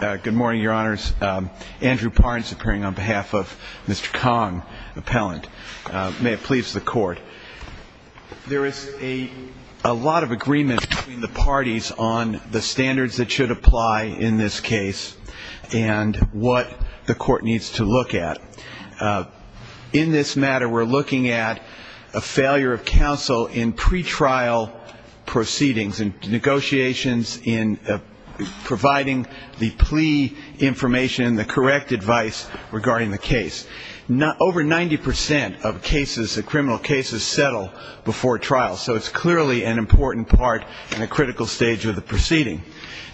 Good morning, your honors. Andrew Parnes appearing on behalf of Mr. Khong, appellant. May it please the court. There is a lot of agreement between the parties on the standards that should apply in this case and what the court needs to look at. In this matter, we're looking at a failure of counsel in pretrial proceedings and negotiations in providing the plea information, the correct advice regarding the case. Over 90% of cases, the criminal cases, settle before trial. So it's clearly an important part in a critical stage of the proceeding.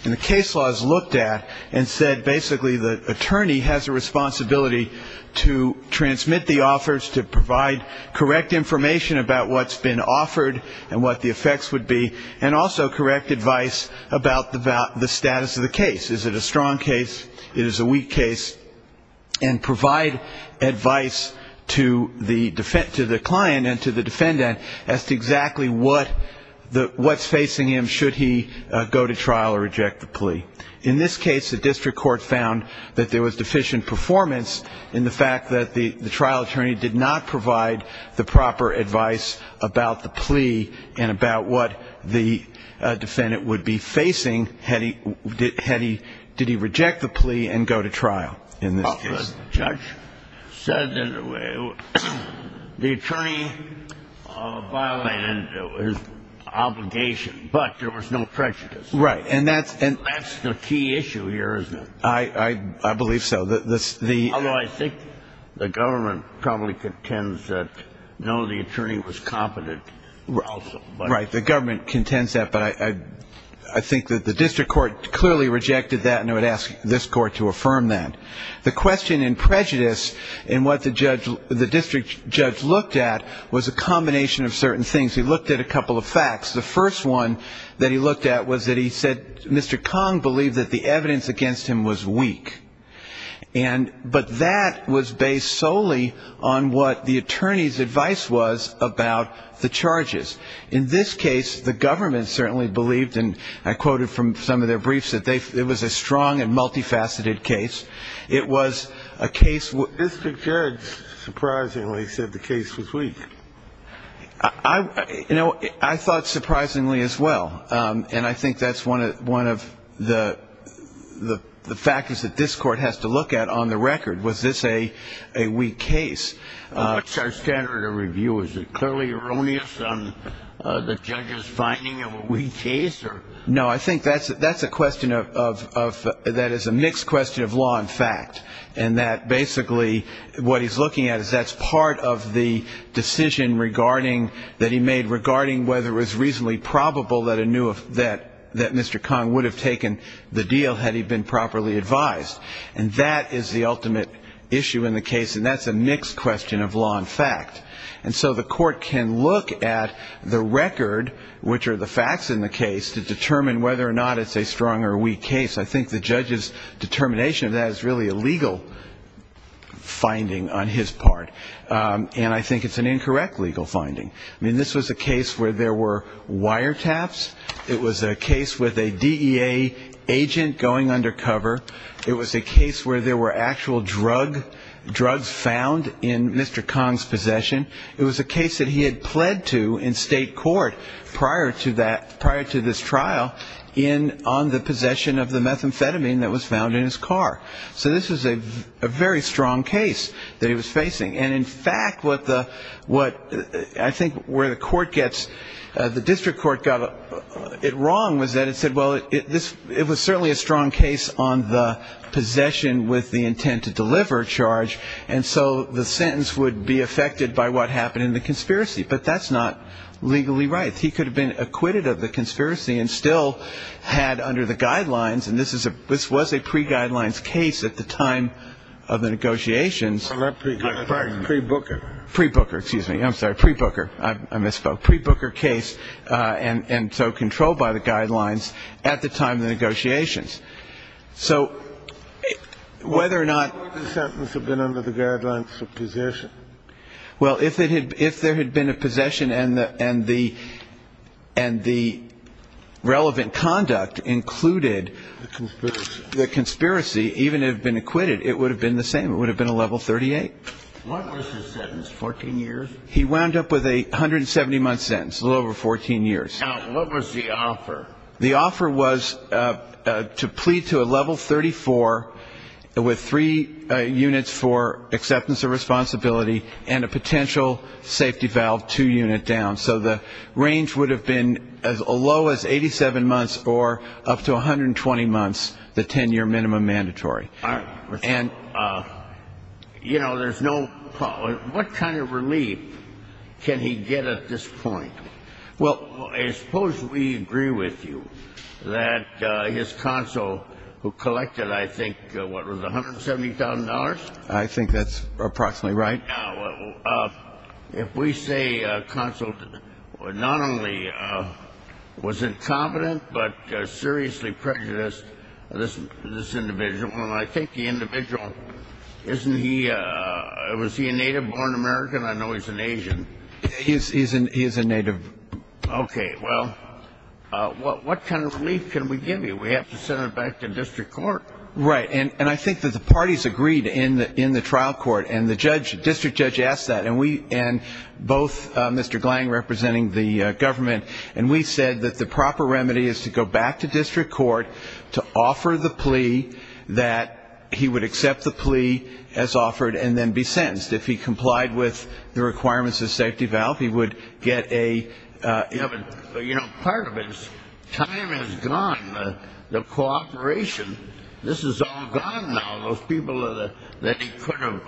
And the case law is looked at and said basically the attorney has a responsibility to transmit the offers to provide correct information about what's been offered and what the effects would be, and also correct advice about the status of the case. Is it a strong case? Is it a weak case? And provide advice to the client and to the defendant as to exactly what's facing him should he go to trial or reject the plea. In this case, the district court found that there was deficient performance in the fact that the trial attorney did not provide the proper advice about the plea and about what the defendant would be facing had he, did he reject the plea and go to trial in this case. The judge said that the attorney violated his obligation, but there was no prejudice. Right. And that's the key issue here, isn't it? I believe so. Although I think the government probably contends that none of the attorney was competent also. Right. The government contends that. But I think that the district court clearly rejected that, and I would ask this court to affirm that. The question in prejudice in what the district judge looked at was a combination of certain things. He looked at a couple of facts. The first one that he looked at was that he said Mr. Kong believed that the evidence against him was weak. And, but that was based solely on what the attorney's advice was about the charges. In this case, the government certainly believed, and I quoted from some of their briefs, that they, it was a strong and multifaceted case. It was a case where And I think that's one of the factors that this court has to look at on the record. Was this a weak case? What's our standard of review? Is it clearly erroneous on the judge's finding of a weak case? No, I think that's a question of, that is a mixed question of law and fact. And that basically what he's looking at is that's part of the decision regarding, that he made regarding whether it was reasonably probable that a new, that Mr. Kong would have taken the deal had he been properly advised. And that is the ultimate issue in the case, and that's a mixed question of law and fact. And so the court can look at the record, which are the facts in the case, to determine whether or not it's a strong or weak case. I think the judge's determination of that is really a legal finding on his part. And I think it's an incorrect legal finding. I mean, this was a case where there were wire taps. It was a case with a DEA agent going undercover. It was a case where there were actual drug, drugs found in Mr. Kong's possession. It was a case that he had pled to in state court prior to that, prior to this trial in, on the possession of the methamphetamine that was found in his car. So this was a very strong case that he was facing. And in fact, what the, what I think where the court gets, the district court got it wrong was that it said, well, it was certainly a strong case on the possession with the intent to deliver charge, and so the sentence would be affected by what happened in the conspiracy. But that's not legally right. He could have been acquitted of the conspiracy and still had under the guidelines of possession. So if there was a pre-guidelines case at the time of the negotiations, pre-Booker, excuse me, I'm sorry, pre-Booker, I misspoke, pre-Booker case, and so controlled by the guidelines at the time of the negotiations. So whether or not the sentence had been under the guidelines of possession. Well, if it had, if there had been a possession and the, and the, and the relevant conduct included the conspiracy, even if it had been acquitted, it would have been the same. It would have been a level 38. What was his sentence, 14 years? He wound up with a 170-month sentence, a little over 14 years. Now, what was the offer? The offer was to plead to a level 34 with three units for acceptance of responsibility and a potential safety valve two unit down. So the range would have been as low as 87 months or up to 120 months, the 10-year minimum mandatory. And, you know, there's no, what kind of relief can he get at this point? Well, suppose we agree with you that his consul who collected, I think, what was it, $170,000? I think that's approximately right. Now, if we say consul not only was incompetent, but seriously prejudiced this individual, I think the individual, isn't he, was he a native-born American? I know he's an Asian. He is a native. Okay. Well, what kind of relief can we give you? We have to send it back to district court. Right. And I think that the parties agreed in the trial court, and the district judge asked that, and both Mr. Glang representing the government, and we said that the proper remedy is to go back to district court to offer the plea that he would accept the plea as offered and then be sentenced. If he complied with the requirements of safety valve, he would get a ---- But, you know, part of it is time has gone. The cooperation, this is all gone now. Those people that he could have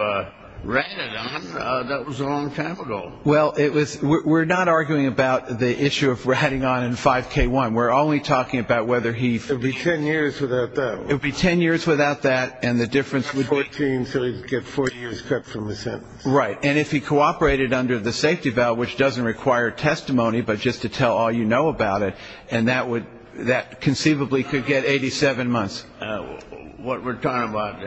ratted on, that was a long time ago. Well, we're not arguing about the issue of ratting on in 5K1. We're only talking about whether he ---- It would be 10 years without that. It would be 10 years without that, and the difference would be ---- 14, so he would get 40 years cut from the sentence. Right. And if he cooperated under the safety valve, which doesn't require testimony, but just to tell all you know about it, and that would, that conceivably could get 87 months. What we're talking about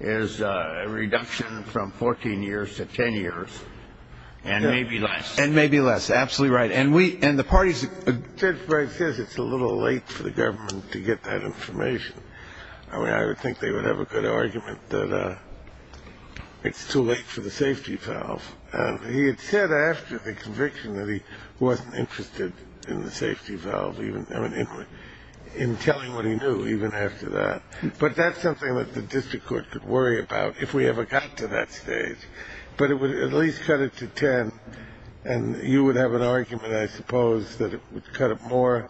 is a reduction from 14 years to 10 years, and maybe less. And maybe less. Absolutely right. And we, and the parties ---- Judge Brey says it's a little late for the government to get that information. I mean, I would think they would have a good argument that it's too late for the safety valve. He had said after the conviction that he wasn't interested in the safety valve, in telling what he knew even after that. But that's something that the district court could worry about if we ever got to that stage. But it would at least cut it to 10, and you would have an argument, I suppose, that it would cut it more,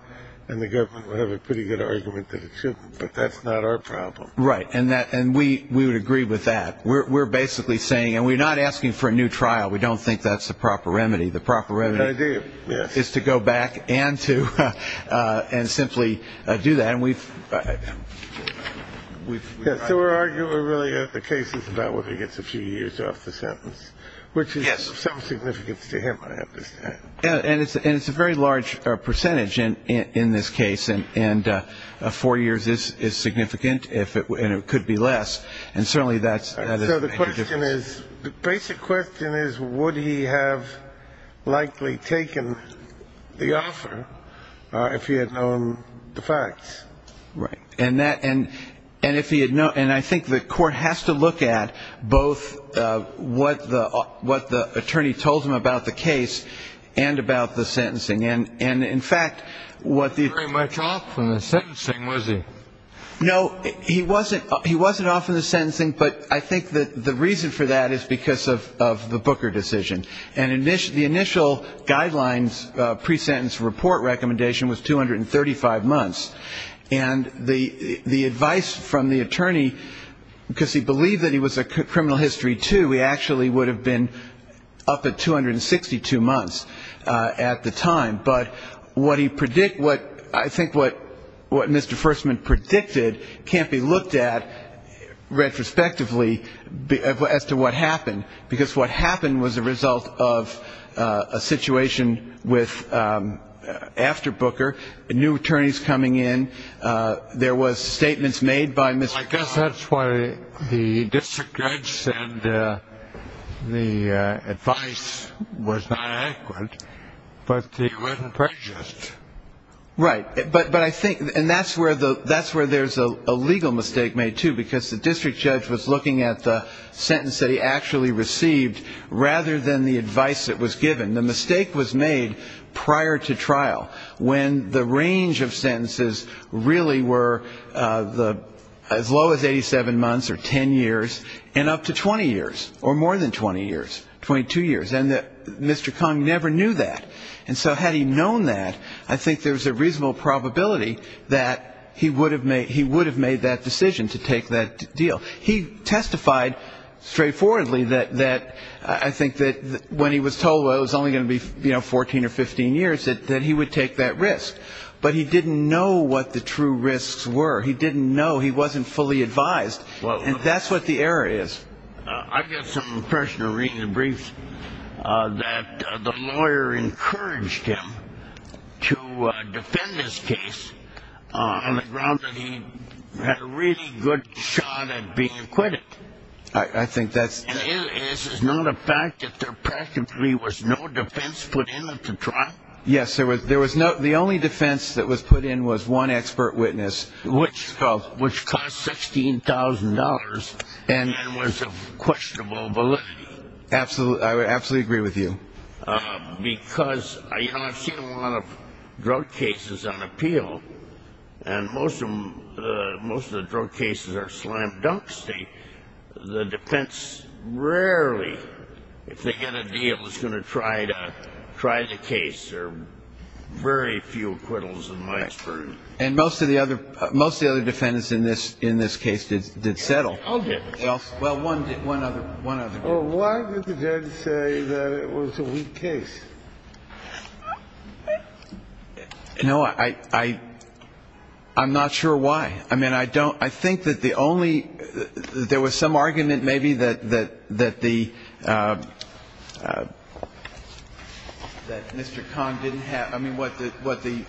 and the government would have a pretty good argument that it shouldn't. But that's not our problem. Right. And we would agree with that. We're basically saying, and we're not asking for a new trial. We don't think that's the proper remedy. The proper remedy is to go back and to, and simply do that. So we're arguing really that the case is about whether he gets a few years off the sentence, which is of some significance to him, I understand. And it's a very large percentage in this case, and four years is significant, and it could be less. And certainly that doesn't make a difference. So the question is, the basic question is, would he have likely taken the offer if he had known the facts? Right. And I think the court has to look at both what the attorney told him about the case and about the sentencing. And, in fact, what the ---- He wasn't very much off on the sentencing, was he? No, he wasn't off on the sentencing. But I think that the reason for that is because of the Booker decision. And the initial guidelines pre-sentence report recommendation was 235 months. And the advice from the attorney, because he believed that he was a criminal history, too, he actually would have been up at 262 months at the time. But what he predicted, I think what Mr. Fersman predicted can't be looked at retrospectively as to what happened, because what happened was a result of a situation with, after Booker, new attorneys coming in. There was statements made by Mr. Fersman. I guess that's why the district judge said the advice was not accurate, but he wasn't prejudiced. Right. But I think that's where there's a legal mistake made, too, because the district judge was looking at the sentence that he actually received rather than the advice that was given. The mistake was made prior to trial, when the range of sentences really were as low as 87 months or 10 years, and up to 20 years or more than 20 years, 22 years. And Mr. Kong never knew that. And so had he known that, I think there's a reasonable probability that he would have made that decision to take that deal. He testified straightforwardly that I think that when he was told it was only going to be 14 or 15 years, that he would take that risk. But he didn't know what the true risks were. He didn't know. He wasn't fully advised. And that's what the error is. I got some impression of reading the briefs that the lawyer encouraged him to defend his case on the grounds that he had a really good shot at being acquitted. I think that's – And this is not a fact that there practically was no defense put in at the trial? Yes, there was no – the only defense that was put in was one expert witness. Which cost $16,000 and was of questionable validity. I would absolutely agree with you. Because I've seen a lot of drug cases on appeal, and most of the drug cases are slam dunks. The defense rarely, if they get a deal, is going to try the case. There are very few acquittals in my experience. And most of the other defendants in this case did settle. I'll give it to you. Well, one other. Well, why did the judge say that it was a weak case? You know, I'm not sure why. I mean, I don't – I think that the only – there was some argument maybe that the – that Mr. Kahn didn't have – I mean, what the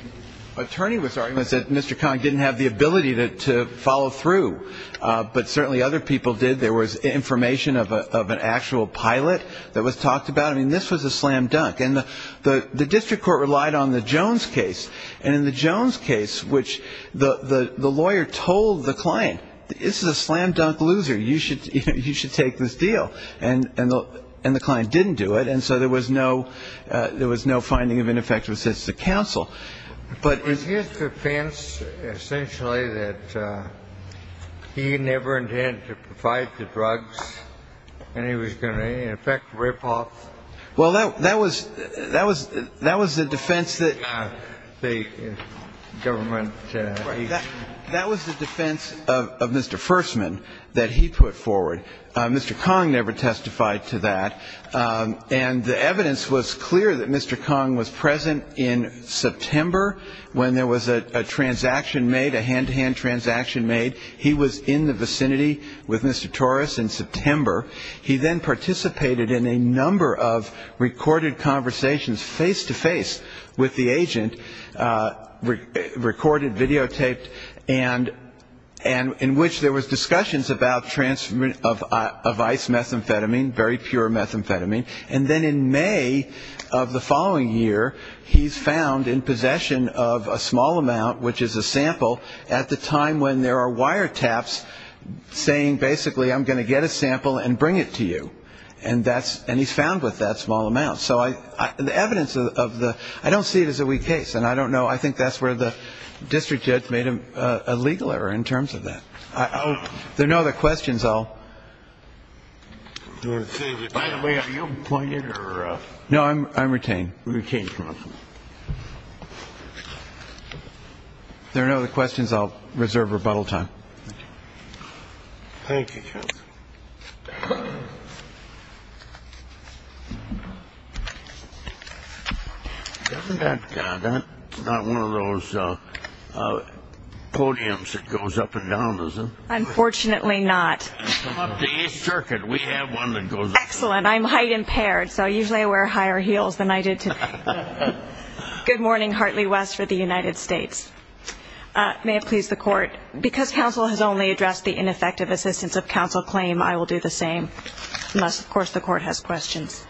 attorney was arguing was that Mr. Kahn didn't have the ability to follow through. But certainly other people did. There was information of an actual pilot that was talked about. I mean, this was a slam dunk. And the district court relied on the Jones case. And in the Jones case, which the lawyer told the client, this is a slam dunk loser. You should take this deal. And the client didn't do it. And so there was no – there was no finding of ineffective assistance to counsel. But in – Was his defense essentially that he never intended to provide the drugs and he was going to, in effect, rip off? Well, that was – that was the defense that – The government – That was the defense of Mr. Fersman that he put forward. Mr. Kahn never testified to that. And the evidence was clear that Mr. Kahn was present in September when there was a transaction made, a hand-to-hand transaction made. He was in the vicinity with Mr. Torres in September. He then participated in a number of recorded conversations face-to-face with the agent, recorded, videotaped, and in which there was discussions about transfer – of ice methamphetamine, very pure methamphetamine. And then in May of the following year, he's found in possession of a small amount, which is a sample, at the time when there are wiretaps saying, basically, I'm going to get a sample and bring it to you. And that's – and he's found with that small amount. So the evidence of the – I don't see it as a weak case. And I don't know. I think that's where the district judge made a legal error in terms of that. There are no other questions. I'll – By the way, are you appointed or – No, I'm retained. Retained. There are no other questions. I'll reserve rebuttal time. Thank you, counsel. Doesn't that – that's not one of those podiums that goes up and down, is it? Unfortunately not. It's an up-to-age circuit. We have one that goes up and down. Excellent. I'm height-impaired, so usually I wear higher heels than I did today. Good morning. Hartley West for the United States. May it please the Court. Because counsel has only addressed the ineffective assistance of counsel claim, I will do the same. Unless, of course, the Court has questions.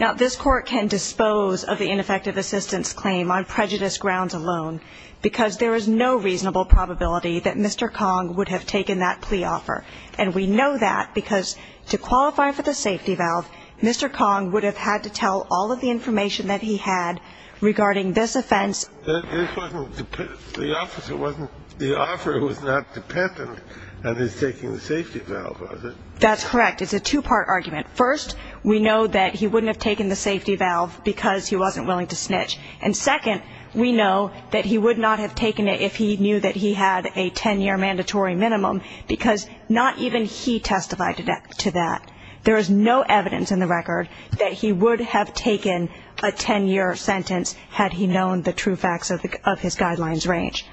Now, this Court can dispose of the ineffective assistance claim on prejudice grounds alone because there is no reasonable probability that Mr. Kong would have taken that plea offer. And we know that because to qualify for the safety valve, Mr. Kong would have had to tell all of the information that he had regarding this offense. This wasn't – the officer wasn't – the offer was not dependent on his taking the safety valve, was it? That's correct. It's a two-part argument. First, we know that he wouldn't have taken the safety valve because he wasn't willing to snitch. And second, we know that he would not have taken it if he knew that he had a 10-year mandatory minimum because not even he testified to that. There is no evidence in the record that he would have taken a 10-year sentence had he known the true facts of his guidelines range.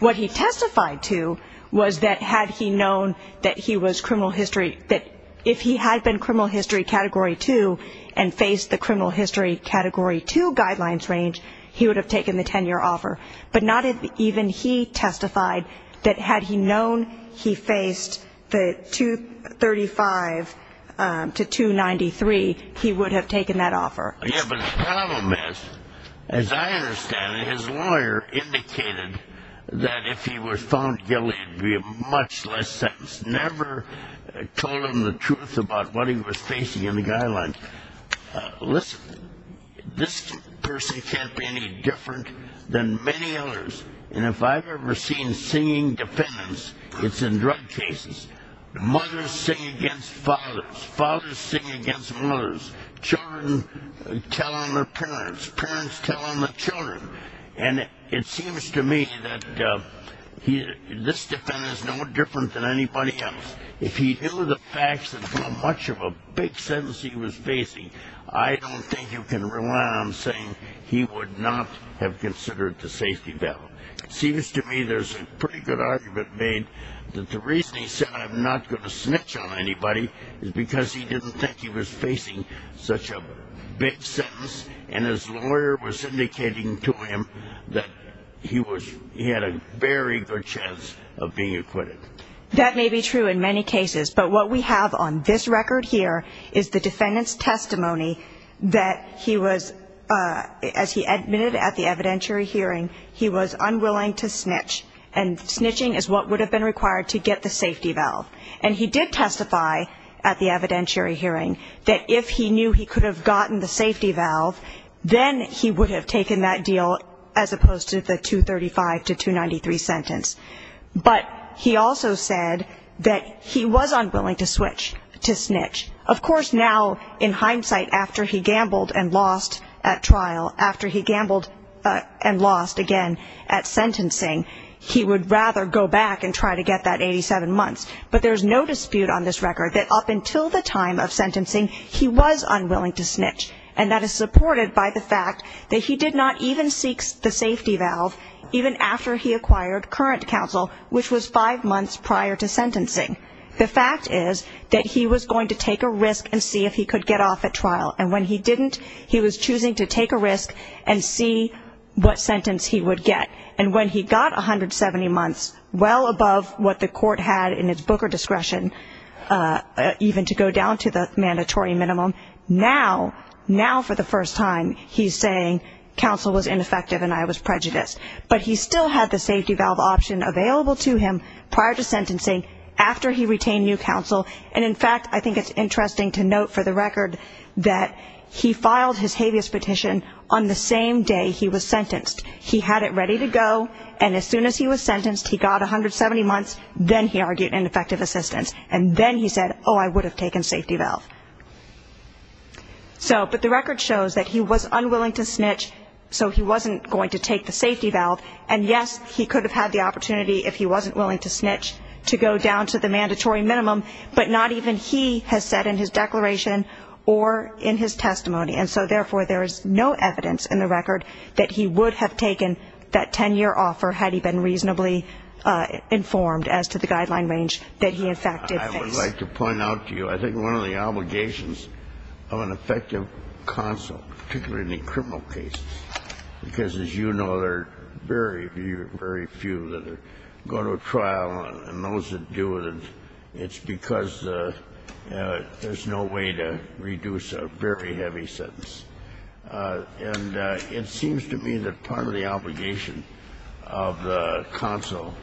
What he testified to was that had he known that he was criminal history – that if he had been criminal history Category 2 and faced the criminal history Category 2 guidelines range, he would have taken the 10-year offer. But not even he testified that had he known he faced the 235 to 293, he would have taken that offer. Yeah, but the problem is, as I understand it, his lawyer indicated that if he was found guilty, it would be a much less sentence. Never told him the truth about what he was facing in the guidelines. Listen, this person can't be any different than many others. And if I've ever seen singing defendants, it's in drug cases. Mothers sing against fathers. Fathers sing against mothers. Children tell on their parents. Parents tell on their children. And it seems to me that this defendant is no different than anybody else. If he knew the facts of how much of a big sentence he was facing, I don't think you can rely on saying he would not have considered the safety belt. It seems to me there's a pretty good argument made that the reason he said, I'm not going to snitch on anybody, is because he didn't think he was facing such a big sentence. And his lawyer was indicating to him that he had a very good chance of being acquitted. That may be true in many cases, but what we have on this record here is the defendant's testimony that he was, as he admitted at the evidentiary hearing, he was unwilling to snitch. And snitching is what would have been required to get the safety valve. And he did testify at the evidentiary hearing that if he knew he could have gotten the safety valve, then he would have taken that deal as opposed to the 235 to 293 sentence. But he also said that he was unwilling to switch, to snitch. Of course, now, in hindsight, after he gambled and lost at trial, after he gambled and lost again at sentencing, he would rather go back and try to get that 87 months. But there's no dispute on this record that up until the time of sentencing, he was unwilling to snitch. And that is supported by the fact that he did not even seek the safety valve, even after he acquired current counsel, which was five months prior to sentencing. The fact is that he was going to take a risk and see if he could get off at trial. And when he didn't, he was choosing to take a risk and see what sentence he would get. And when he got 170 months, well above what the court had in its Booker discretion, even to go down to the mandatory minimum, now, for the first time, he's saying counsel was ineffective and I was prejudiced. But he still had the safety valve option available to him prior to sentencing, after he retained new counsel. And, in fact, I think it's interesting to note for the record that he filed his habeas petition on the same day he was sentenced. He had it ready to go, and as soon as he was sentenced, he got 170 months, then he argued ineffective assistance. And then he said, oh, I would have taken safety valve. So, but the record shows that he was unwilling to snitch, so he wasn't going to take the safety valve. And, yes, he could have had the opportunity, if he wasn't willing to snitch, to go down to the mandatory minimum, but not even he has said in his declaration or in his testimony. And so, therefore, there is no evidence in the record that he would have taken that 10-year offer, had he been reasonably informed as to the guideline range that he, in fact, did face. I would like to point out to you, I think one of the obligations of an effective counsel, particularly in a criminal case, because, as you know, there are very, very few that go to a trial, and those that do, it's because there's no way to reduce a very heavy sentence. And it seems to me that part of the obligation of the counsel,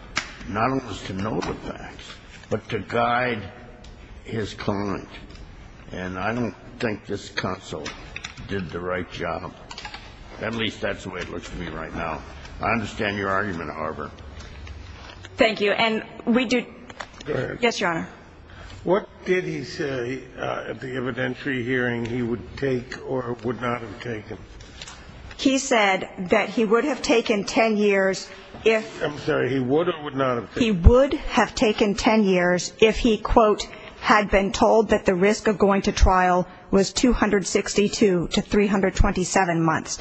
not only is to know the facts, but to guide his client. And I don't think this counsel did the right job. At least that's the way it looks to me right now. I understand your argument, however. Thank you. And we do. Go ahead. Yes, Your Honor. What did he say at the evidentiary hearing he would take or would not have taken? He said that he would have taken 10 years if. I'm sorry. He would or would not have taken? He would have taken 10 years if he, quote, had been told that the risk of going to trial was 262 to 327 months.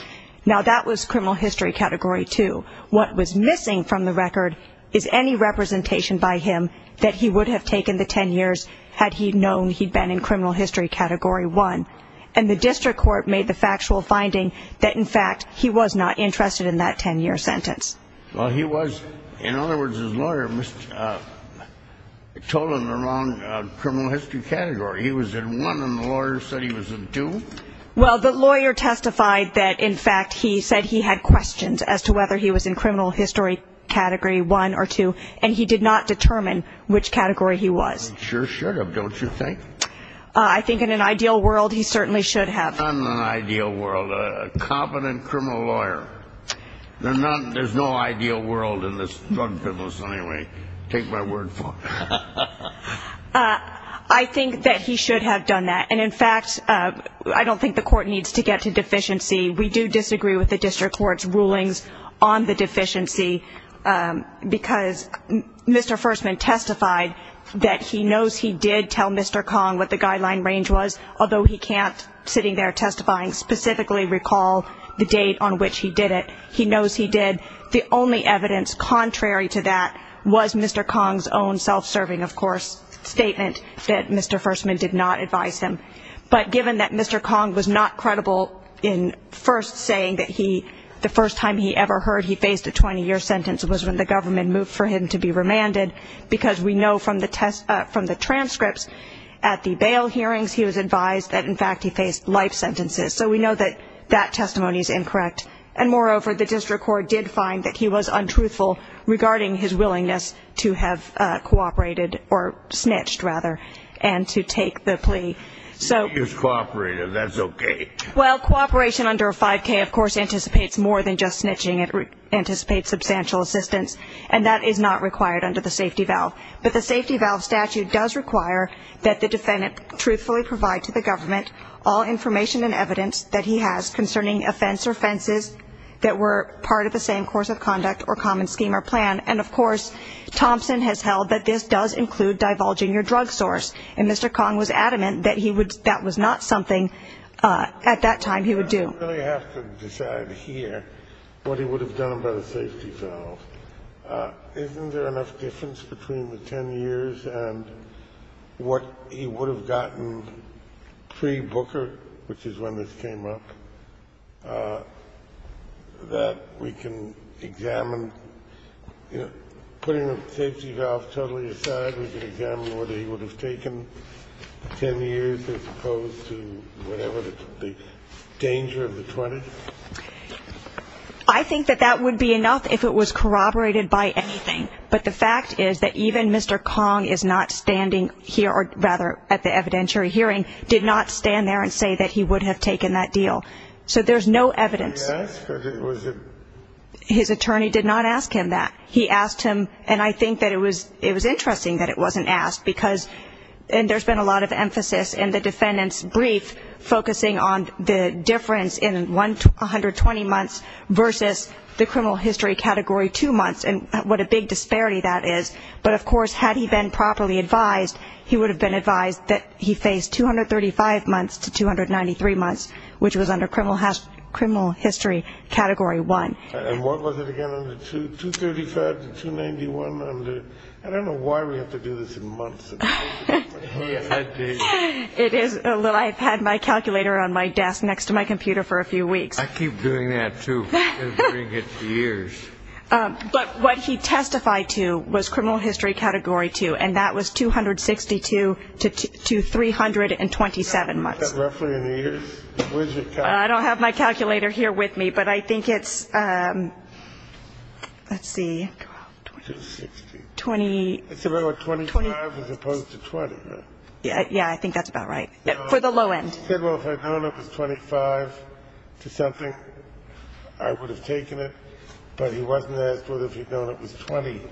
Now, that was criminal history category 2. What was missing from the record is any representation by him that he would have taken the 10 years had he known he'd been in criminal history category 1. And the district court made the factual finding that, in fact, he was not interested in that 10-year sentence. Well, he was. In other words, his lawyer told him the wrong criminal history category. He was in 1 and the lawyer said he was in 2? Well, the lawyer testified that, in fact, he said he had questions as to whether he was in criminal history category 1 or 2, and he did not determine which category he was. He sure should have, don't you think? I think in an ideal world he certainly should have. Not in an ideal world. A competent criminal lawyer. There's no ideal world in this drug business anyway. Take my word for it. I think that he should have done that. And, in fact, I don't think the court needs to get to deficiency. We do disagree with the district court's rulings on the deficiency because Mr. Fersman testified that he knows he did tell Mr. Kong what the guideline range was, although he can't, sitting there testifying, specifically recall the date on which he did it. He knows he did. The only evidence contrary to that was Mr. Kong's own self-serving, of course, statement that Mr. Fersman did not advise him. But given that Mr. Kong was not credible in first saying that the first time he ever heard he faced a 20-year sentence was when the government moved for him to be remanded, because we know from the transcripts at the bail hearings he was advised that, in fact, he faced life sentences. So we know that that testimony is incorrect. And, moreover, the district court did find that he was untruthful regarding his willingness to have cooperated, or snitched, rather, and to take the plea. He was cooperative. That's okay. Well, cooperation under a 5K, of course, anticipates more than just snitching. It anticipates substantial assistance. And that is not required under the safety valve. But the safety valve statute does require that the defendant truthfully provide to the government all information and evidence that he has concerning offense or offenses that were part of the same course of conduct or common scheme or plan. And, of course, Thompson has held that this does include divulging your drug source. And Mr. Kong was adamant that that was not something at that time he would do. We don't really have to decide here what he would have done by the safety valve. Isn't there enough difference between the 10 years and what he would have gotten pre-Booker, which is when this came up, that we can examine? You know, putting the safety valve totally aside, whether he would have taken 10 years as opposed to whatever the danger of the 20th? I think that that would be enough if it was corroborated by anything. But the fact is that even Mr. Kong is not standing here, or rather at the evidentiary hearing, did not stand there and say that he would have taken that deal. So there's no evidence. Yes, because it was a ---- His attorney did not ask him that. He asked him, and I think that it was interesting that it wasn't asked, because there's been a lot of emphasis in the defendant's brief focusing on the difference in 120 months versus the criminal history Category 2 months, and what a big disparity that is. But, of course, had he been properly advised, he would have been advised that he faced 235 months to 293 months, which was under criminal history Category 1. And what was it again under 235 to 291? I don't know why we have to do this in months. I've had my calculator on my desk next to my computer for a few weeks. I keep doing that, too. I've been doing it for years. But what he testified to was criminal history Category 2, and that was 262 to 327 months. Roughly in years? I don't have my calculator here with me, but I think it's, let's see, 20. It's about 25 as opposed to 20, right? Yeah, I think that's about right, for the low end. He said, well, if I'd known it was 25 to something, I would have taken it, but he wasn't asked whether if he'd known it was 20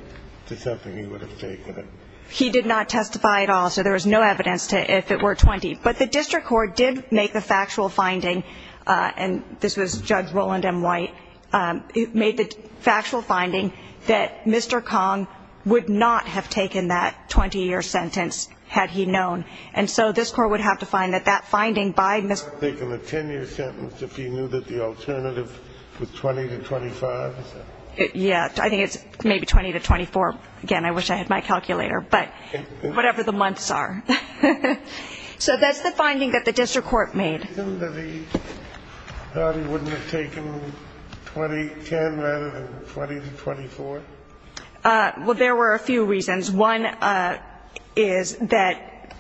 to something he would have taken it. He did not testify at all, so there was no evidence if it were 20. But the district court did make the factual finding, and this was Judge Roland M. White, made the factual finding that Mr. Kong would not have taken that 20-year sentence had he known. And so this court would have to find that that finding by Mr. I would have taken the 10-year sentence if he knew that the alternative was 20 to 25. Yeah, I think it's maybe 20 to 24. Again, I wish I had my calculator, but whatever the months are. So that's the finding that the district court made. Was there a reason that he thought he wouldn't have taken 20-10 rather than 20 to 24? Well, there were a few reasons. One is that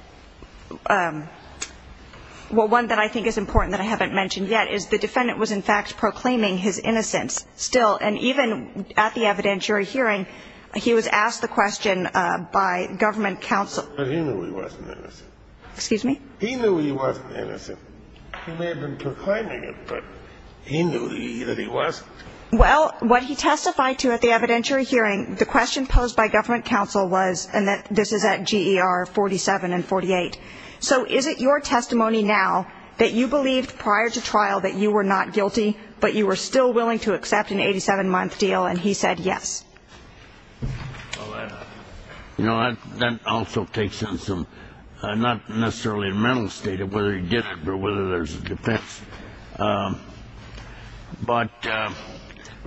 one that I think is important that I haven't mentioned yet is the defendant was, in fact, proclaiming his innocence still, and even at the evidentiary hearing, he was asked the question by government counsel. But he knew he wasn't innocent. Excuse me? He knew he wasn't innocent. He may have been proclaiming it, but he knew that he wasn't. Well, what he testified to at the evidentiary hearing, the question posed by government counsel was, and this is at GER 47 and 48, so is it your testimony now that you believed prior to trial that you were not guilty, but you were still willing to accept an 87-month deal, and he said yes? Well, you know, that also takes in some, not necessarily the mental state of whether he did it, but whether there's a defense. But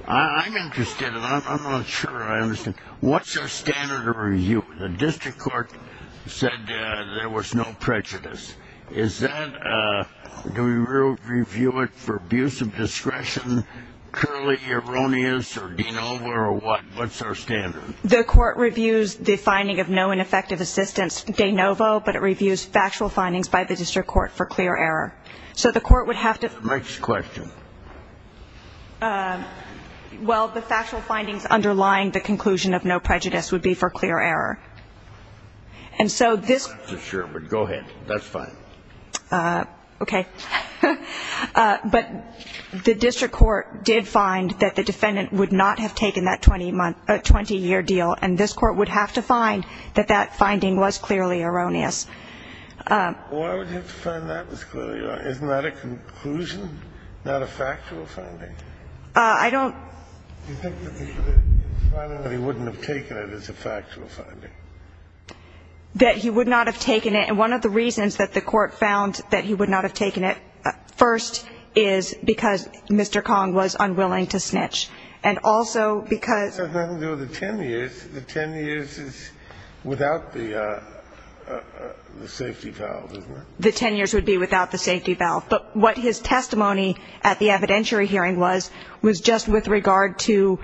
I'm interested, and I'm not sure I understand. What's your standard of review? The district court said there was no prejudice. Do we review it for abuse of discretion, currently erroneous, or de novo, or what? What's our standard? The court reviews the finding of no ineffective assistance de novo, but it reviews factual findings by the district court for clear error. So the court would have to ---- Next question. Well, the factual findings underlying the conclusion of no prejudice would be for clear error. And so this ---- Not for sure, but go ahead. That's fine. Okay. But the district court did find that the defendant would not have taken that 20-year deal, and this court would have to find that that finding was clearly erroneous. Well, I would have to find that was clearly erroneous. Isn't that a conclusion, not a factual finding? I don't ---- Do you think that the finding that he wouldn't have taken it is a factual finding? That he would not have taken it. And one of the reasons that the court found that he would not have taken it, first, is because Mr. Kong was unwilling to snitch, and also because ---- It has nothing to do with the 10 years. The 10 years is without the safety valve, isn't it? The 10 years would be without the safety valve. But what his testimony at the evidentiary hearing was, was just with regard to,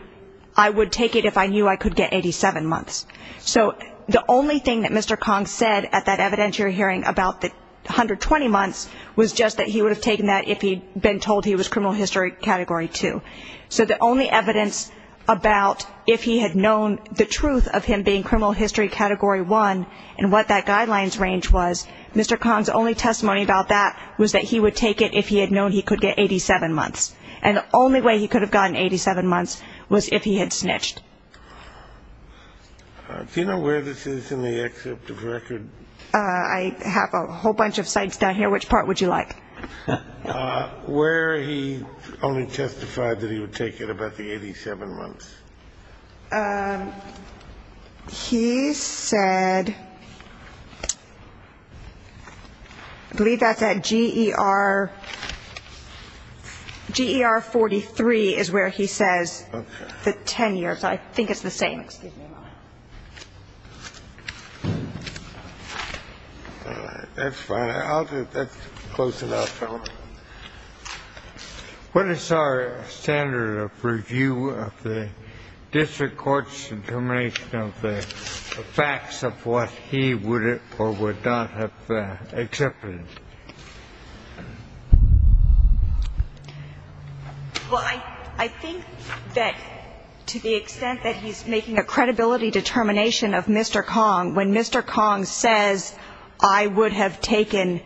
I would take it if I knew I could get 87 months. So the only thing that Mr. Kong said at that evidentiary hearing about the 120 months was just that he would have taken that if he had been told he was criminal history Category 2. So the only evidence about if he had known the truth of him being criminal history Category 1 and what that guidelines range was, Mr. Kong's only testimony about that was that he would take it if he had known he could get 87 months. And the only way he could have gotten 87 months was if he had snitched. Do you know where this is in the excerpt of record? I have a whole bunch of sites down here. Which part would you like? Where he only testified that he would take it about the 87 months. He said, I believe that's at GER 43 is where he says the 10 years. I think it's the same. That's fine. That's close enough. What is our standard of review of the district court's determination of the facts of what he would or would not have accepted? Well, I think that to the extent that he's making a credibility determination of Mr. Kong, when Mr. Kong says I would have taken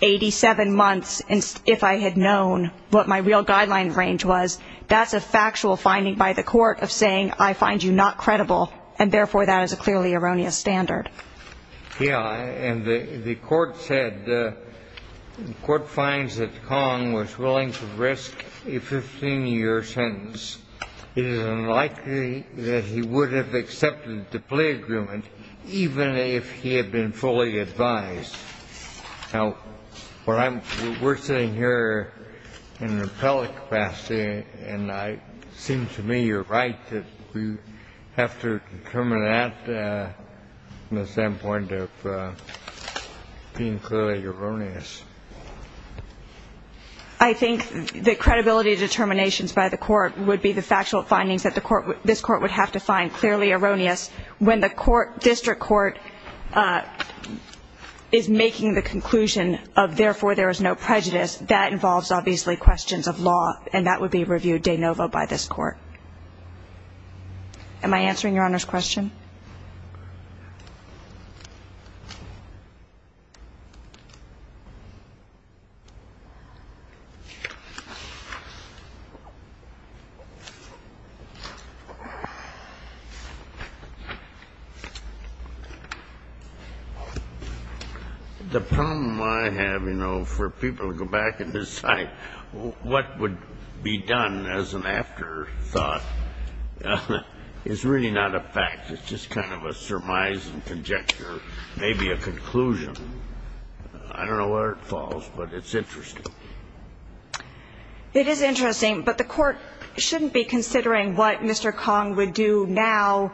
87 months if I had known what my real guideline range was, that's a factual finding by the court of saying I find you not credible. And therefore, that is a clearly erroneous standard. Yeah. And the court said the court finds that Kong was willing to risk a 15-year sentence. It is unlikely that he would have accepted the plea agreement, even if he had been fully advised. Now, what we're saying here in an appellate capacity, and it seems to me you're right, that we have to determine that from the standpoint of being clearly erroneous. I think the credibility determinations by the court would be the factual findings that this court would have to find clearly erroneous. When the district court is making the conclusion of therefore there is no prejudice, that involves obviously questions of law, and that would be reviewed de novo by this court. Am I answering Your Honor's question? The problem I have, you know, for people to go back and decide what would be done as an afterthought, is really not a fact. It's just kind of a surmise and conjecture, maybe a conclusion. I don't know where it falls, but it's interesting. It is interesting, but the court shouldn't be considering what Mr. Kong would do now,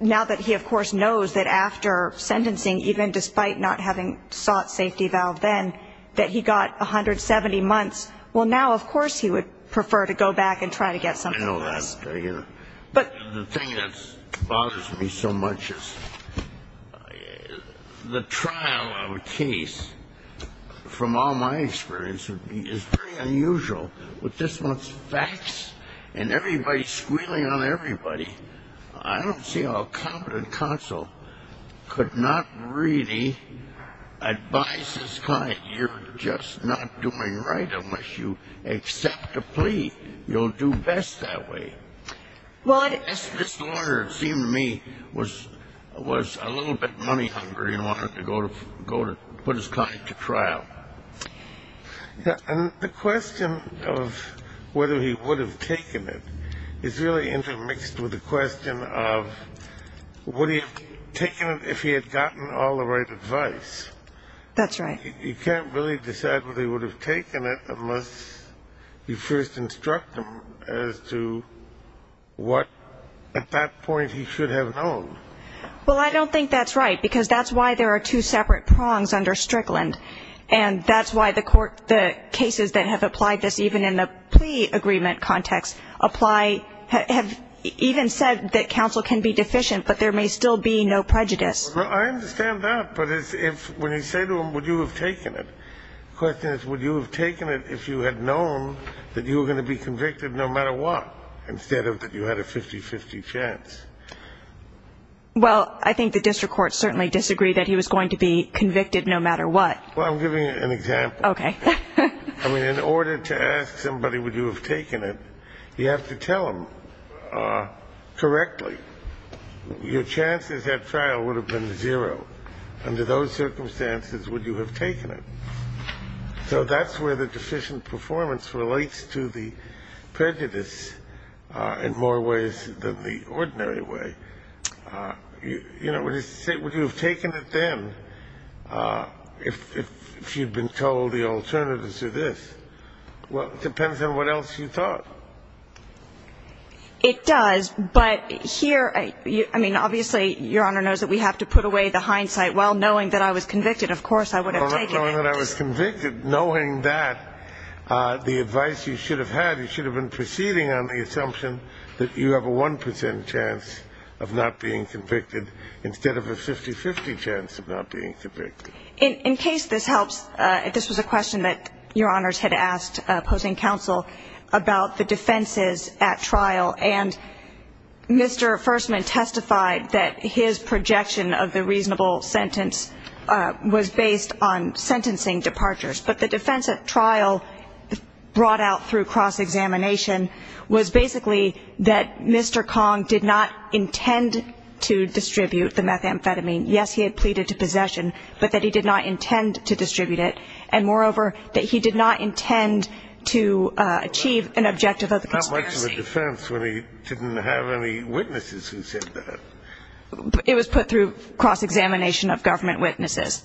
now that he of course knows that after sentencing, even despite not having sought safety valve then, that he got 170 months. Well, now of course he would prefer to go back and try to get something else. I know that, but the thing that bothers me so much is the trial of a case, from all my experience, is pretty unusual with this one's facts and everybody squealing on everybody. I don't see how a competent counsel could not really advise his client, you're just not doing right unless you accept a plea. You'll do best that way. This lawyer, it seemed to me, was a little bit money hungry and wanted to go to put his client to trial. And the question of whether he would have taken it is really intermixed with the question of would he have taken it if he had gotten all the right advice. That's right. You can't really decide whether he would have taken it unless you first instruct him as to what, at that point, he should have known. Well, I don't think that's right, because that's why there are two separate prongs under Strickland, and that's why the court, the cases that have applied this even in a plea agreement context, apply, have even said that counsel can be deficient, but there may still be no prejudice. I understand that, but when you say to him would you have taken it, the question is would you have taken it if you had known that you were going to be convicted no matter what, instead of that you had a 50-50 chance. Well, I think the district courts certainly disagree that he was going to be convicted no matter what. Well, I'm giving you an example. Okay. I mean, in order to ask somebody would you have taken it, you have to tell them correctly. Your chances at trial would have been zero. Under those circumstances, would you have taken it? So that's where the deficient performance relates to the prejudice in more ways than the ordinary way. You know, would you have taken it then if you'd been told the alternatives are this? Well, it depends on what else you thought. It does. But here, I mean, obviously Your Honor knows that we have to put away the hindsight. Well, knowing that I was convicted, of course I would have taken it. Well, not knowing that I was convicted. Knowing that, the advice you should have had, you should have been proceeding on the assumption that you have a 1 percent chance of not being convicted instead of a 50-50 chance of not being convicted. In case this helps, this was a question that Your Honors had asked opposing counsel about the defenses at trial. And Mr. Fersman testified that his projection of the reasonable sentence was based on sentencing departures. But the defense at trial brought out through cross-examination was basically that Mr. Kong did not intend to distribute the methamphetamine. Yes, he had pleaded to possession, but that he did not intend to distribute it. And moreover, that he did not intend to achieve an objective of conspiracy. Not much of a defense when he didn't have any witnesses who said that. It was put through cross-examination of government witnesses.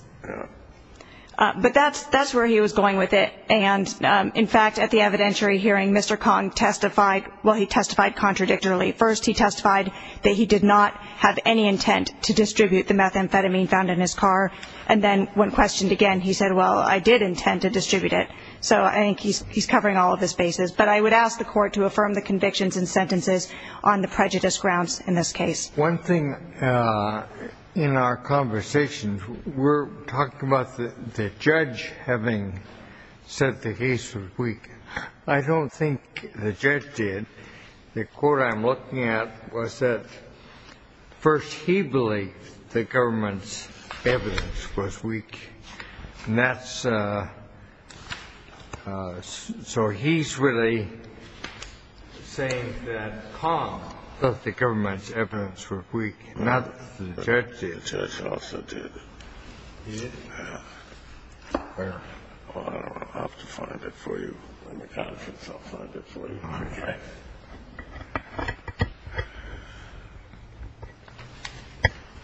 But that's where he was going with it. And, in fact, at the evidentiary hearing, Mr. Kong testified. Well, he testified contradictorily. First, he testified that he did not have any intent to distribute the methamphetamine found in his car. And then when questioned again, he said, well, I did intend to distribute it. So I think he's covering all of his bases. But I would ask the court to affirm the convictions and sentences on the prejudice grounds in this case. One thing in our conversations, we're talking about the judge having said the case was weak. I don't think the judge did. The court I'm looking at was that first he believed the government's evidence was weak. And that's so he's really saying that Kong thought the government's evidence was weak, not the judge did. The judge also did. He did? Yeah. Where? I don't know. I'll have to find it for you.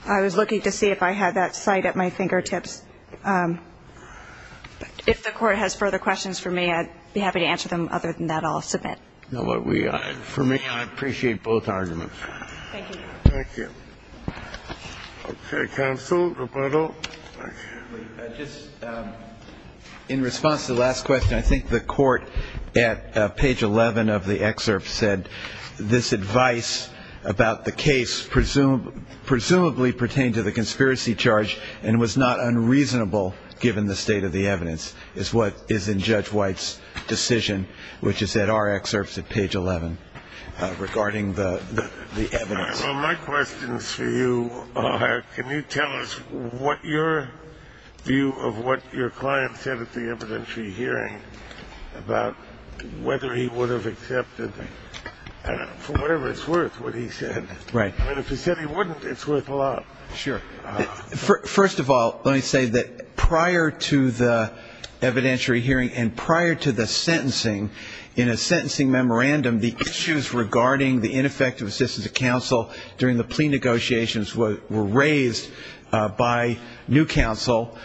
I was looking to see if I had that cite at my fingertips. If the court has further questions for me, I'd be happy to answer them. Other than that, I'll submit. For me, I appreciate both arguments. Thank you. Thank you. Okay. Counsel, Roberto. Just in response to the last question, I think the court at page 11 of the excerpt said, this advice about the case presumably pertained to the conspiracy charge and was not unreasonable given the state of the evidence is what is in Judge White's decision, which is in our excerpts at page 11 regarding the evidence. My question is for you, can you tell us what your view of what your client said at the evidentiary hearing about whether he would have accepted, for whatever it's worth, what he said? Right. If he said he wouldn't, it's worth a lot. Sure. First of all, let me say that prior to the evidentiary hearing and prior to the sentencing, in a sentencing memorandum, the issues regarding the ineffective assistance of counsel during the plea negotiations were raised by new counsel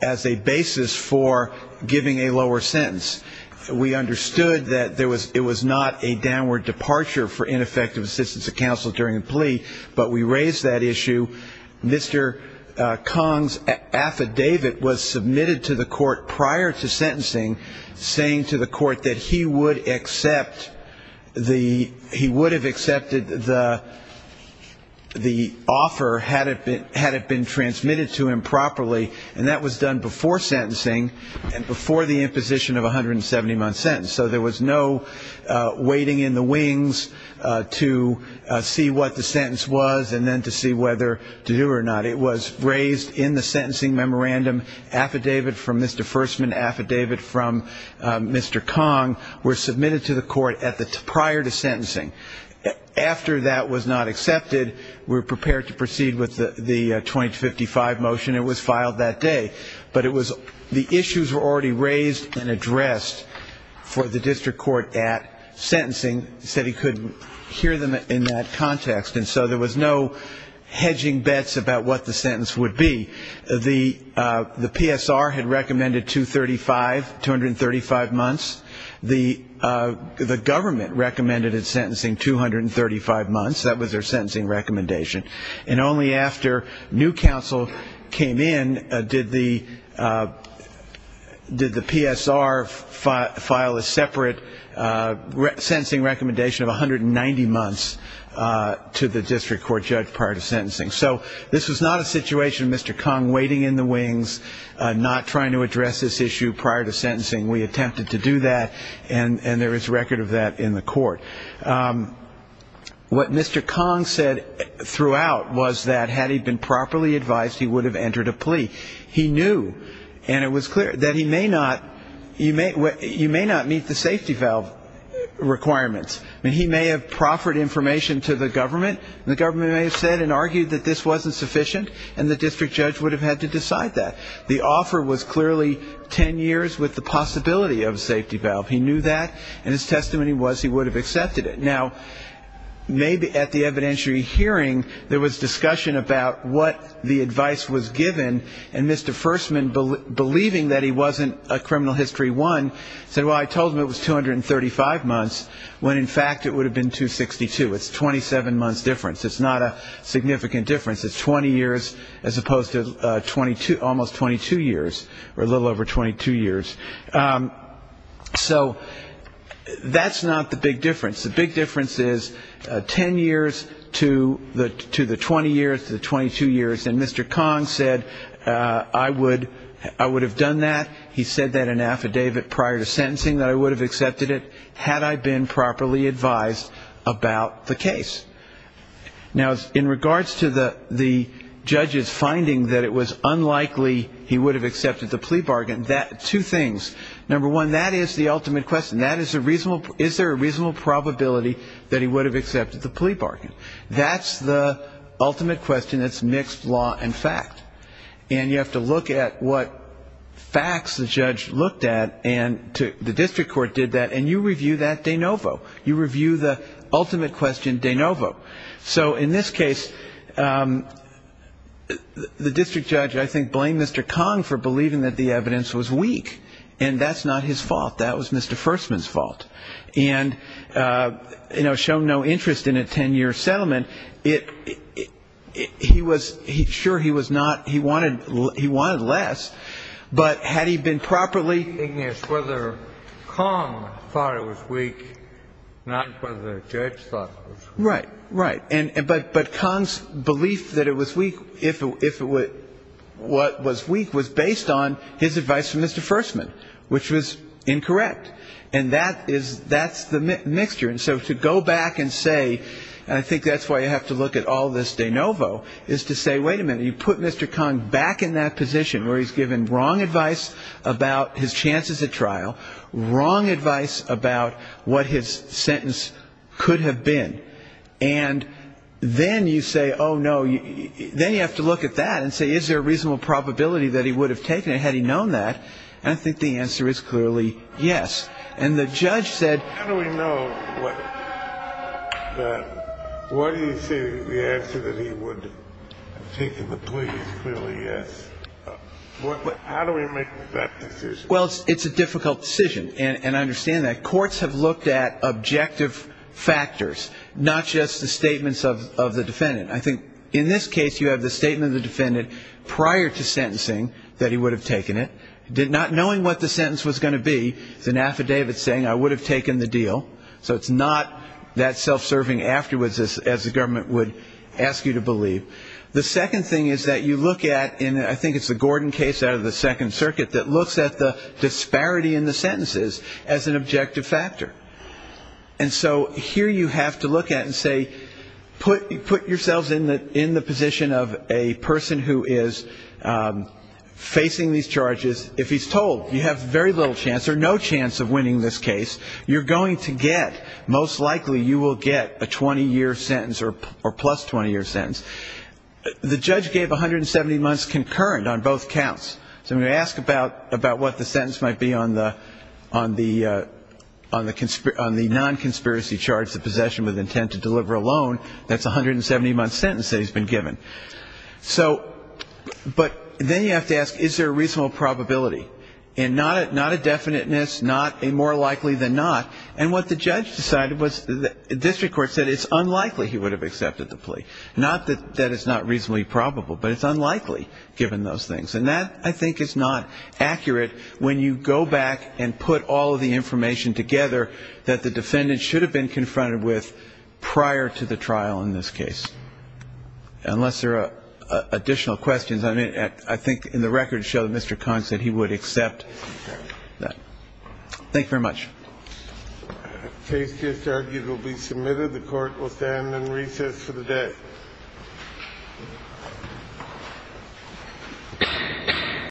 as a basis for giving a lower sentence. We understood that it was not a downward departure for ineffective assistance of counsel during the plea, but we raised that issue. Mr. Kong's affidavit was submitted to the court prior to sentencing, saying to the court that he would have accepted the offer had it been transmitted to him properly, and that was done before sentencing and before the imposition of a 170-month sentence. So there was no waiting in the wings to see what the sentence was and then to see whether to do it or not. It was raised in the sentencing memorandum, affidavit from Mr. Fersman, affidavit from Mr. Kong, were submitted to the court prior to sentencing. After that was not accepted, we were prepared to proceed with the 2255 motion. It was filed that day. But it was the issues were already raised and addressed for the district court at sentencing, said he couldn't hear them in that context, and so there was no hedging bets about what the sentence would be. The PSR had recommended 235, 235 months. The government recommended it's sentencing 235 months. That was their sentencing recommendation. And only after new counsel came in did the PSR file a separate sentencing recommendation of 190 months to the district court judge prior to sentencing. So this was not a situation of Mr. Kong waiting in the wings, not trying to address this issue prior to sentencing. We attempted to do that, and there is record of that in the court. What Mr. Kong said throughout was that had he been properly advised, he would have entered a plea. He knew, and it was clear, that he may not meet the safety valve requirements. I mean, he may have proffered information to the government, and the government may have said and argued that this wasn't sufficient, and the district judge would have had to decide that. The offer was clearly ten years with the possibility of a safety valve. He knew that, and his testimony was he would have accepted it. Now, maybe at the evidentiary hearing there was discussion about what the advice was given, and Mr. Fersman, believing that he wasn't a criminal history I, said, well, I told him it was 235 months, when in fact it would have been 262. It's a 27-month difference. It's not a significant difference. It's 20 years as opposed to almost 22 years, or a little over 22 years. So that's not the big difference. The big difference is ten years to the 20 years, to the 22 years. And Mr. Kong said, I would have done that. He said that in affidavit prior to sentencing, that I would have accepted it had I been properly advised about the case. Now, in regards to the judge's finding that it was unlikely he would have accepted the plea bargain, two things, number one, that is the ultimate question. Is there a reasonable probability that he would have accepted the plea bargain? That's the ultimate question that's mixed law and fact. And you have to look at what facts the judge looked at, and the district court did that, and you review that de novo. You review the ultimate question de novo. So in this case, the district judge, I think, blamed Mr. Kong for believing that the evidence was weak, and that's not his fault. That was Mr. Fersman's fault. And, you know, shown no interest in a ten-year settlement, it he was he sure he was not he wanted he wanted less, but had he been properly. The key thing is whether Kong thought it was weak, not whether the judge thought it was weak. Right, right. But Kong's belief that it was weak, if it was weak, was based on his advice from Mr. Fersman, which was incorrect. And that is the mixture. And so to go back and say, and I think that's why you have to look at all this de novo, is to say, wait a minute, you put Mr. Kong back in that position where he's given wrong advice about his chances at trial, wrong advice about what his sentence could have been, and then you say, oh, no. Then you have to look at that and say, is there a reasonable probability that he would have taken it had he known that? And I think the answer is clearly yes. Well, it's a difficult decision, and I understand that. Courts have looked at objective factors, not just the statements of the defendant. I think in this case, you have the statement of the defendant prior to sentencing that he would have taken it, not knowing what the sentence was going to be. It's an affidavit. It's an affidavit saying I would have taken the deal. So it's not that self-serving afterwards, as the government would ask you to believe. The second thing is that you look at, and I think it's the Gordon case out of the Second Circuit, that looks at the disparity in the sentences as an objective factor. And so here you have to look at it and say, put yourselves in the position of a person who is facing these charges. If he's told you have very little chance or no chance of winning this case, you're going to get, most likely you will get a 20-year sentence or plus 20-year sentence. The judge gave 170 months concurrent on both counts. So when you ask about what the sentence might be on the non-conspiracy charge, the possession with intent to deliver a loan, that's a 170-month sentence that he's been given. So, but then you have to ask, is there a reasonable probability? And not a definiteness, not a more likely than not. And what the judge decided was the district court said it's unlikely he would have accepted the plea. Not that it's not reasonably probable, but it's unlikely given those things. And that, I think, is not accurate when you go back and put all of the information together that the defendant should have been confronted with prior to the trial in this case. Unless there are additional questions. I mean, I think in the records show that Mr. Kahn said he would accept that. Thank you very much. Case just argued will be submitted. The court will stand on recess for the day.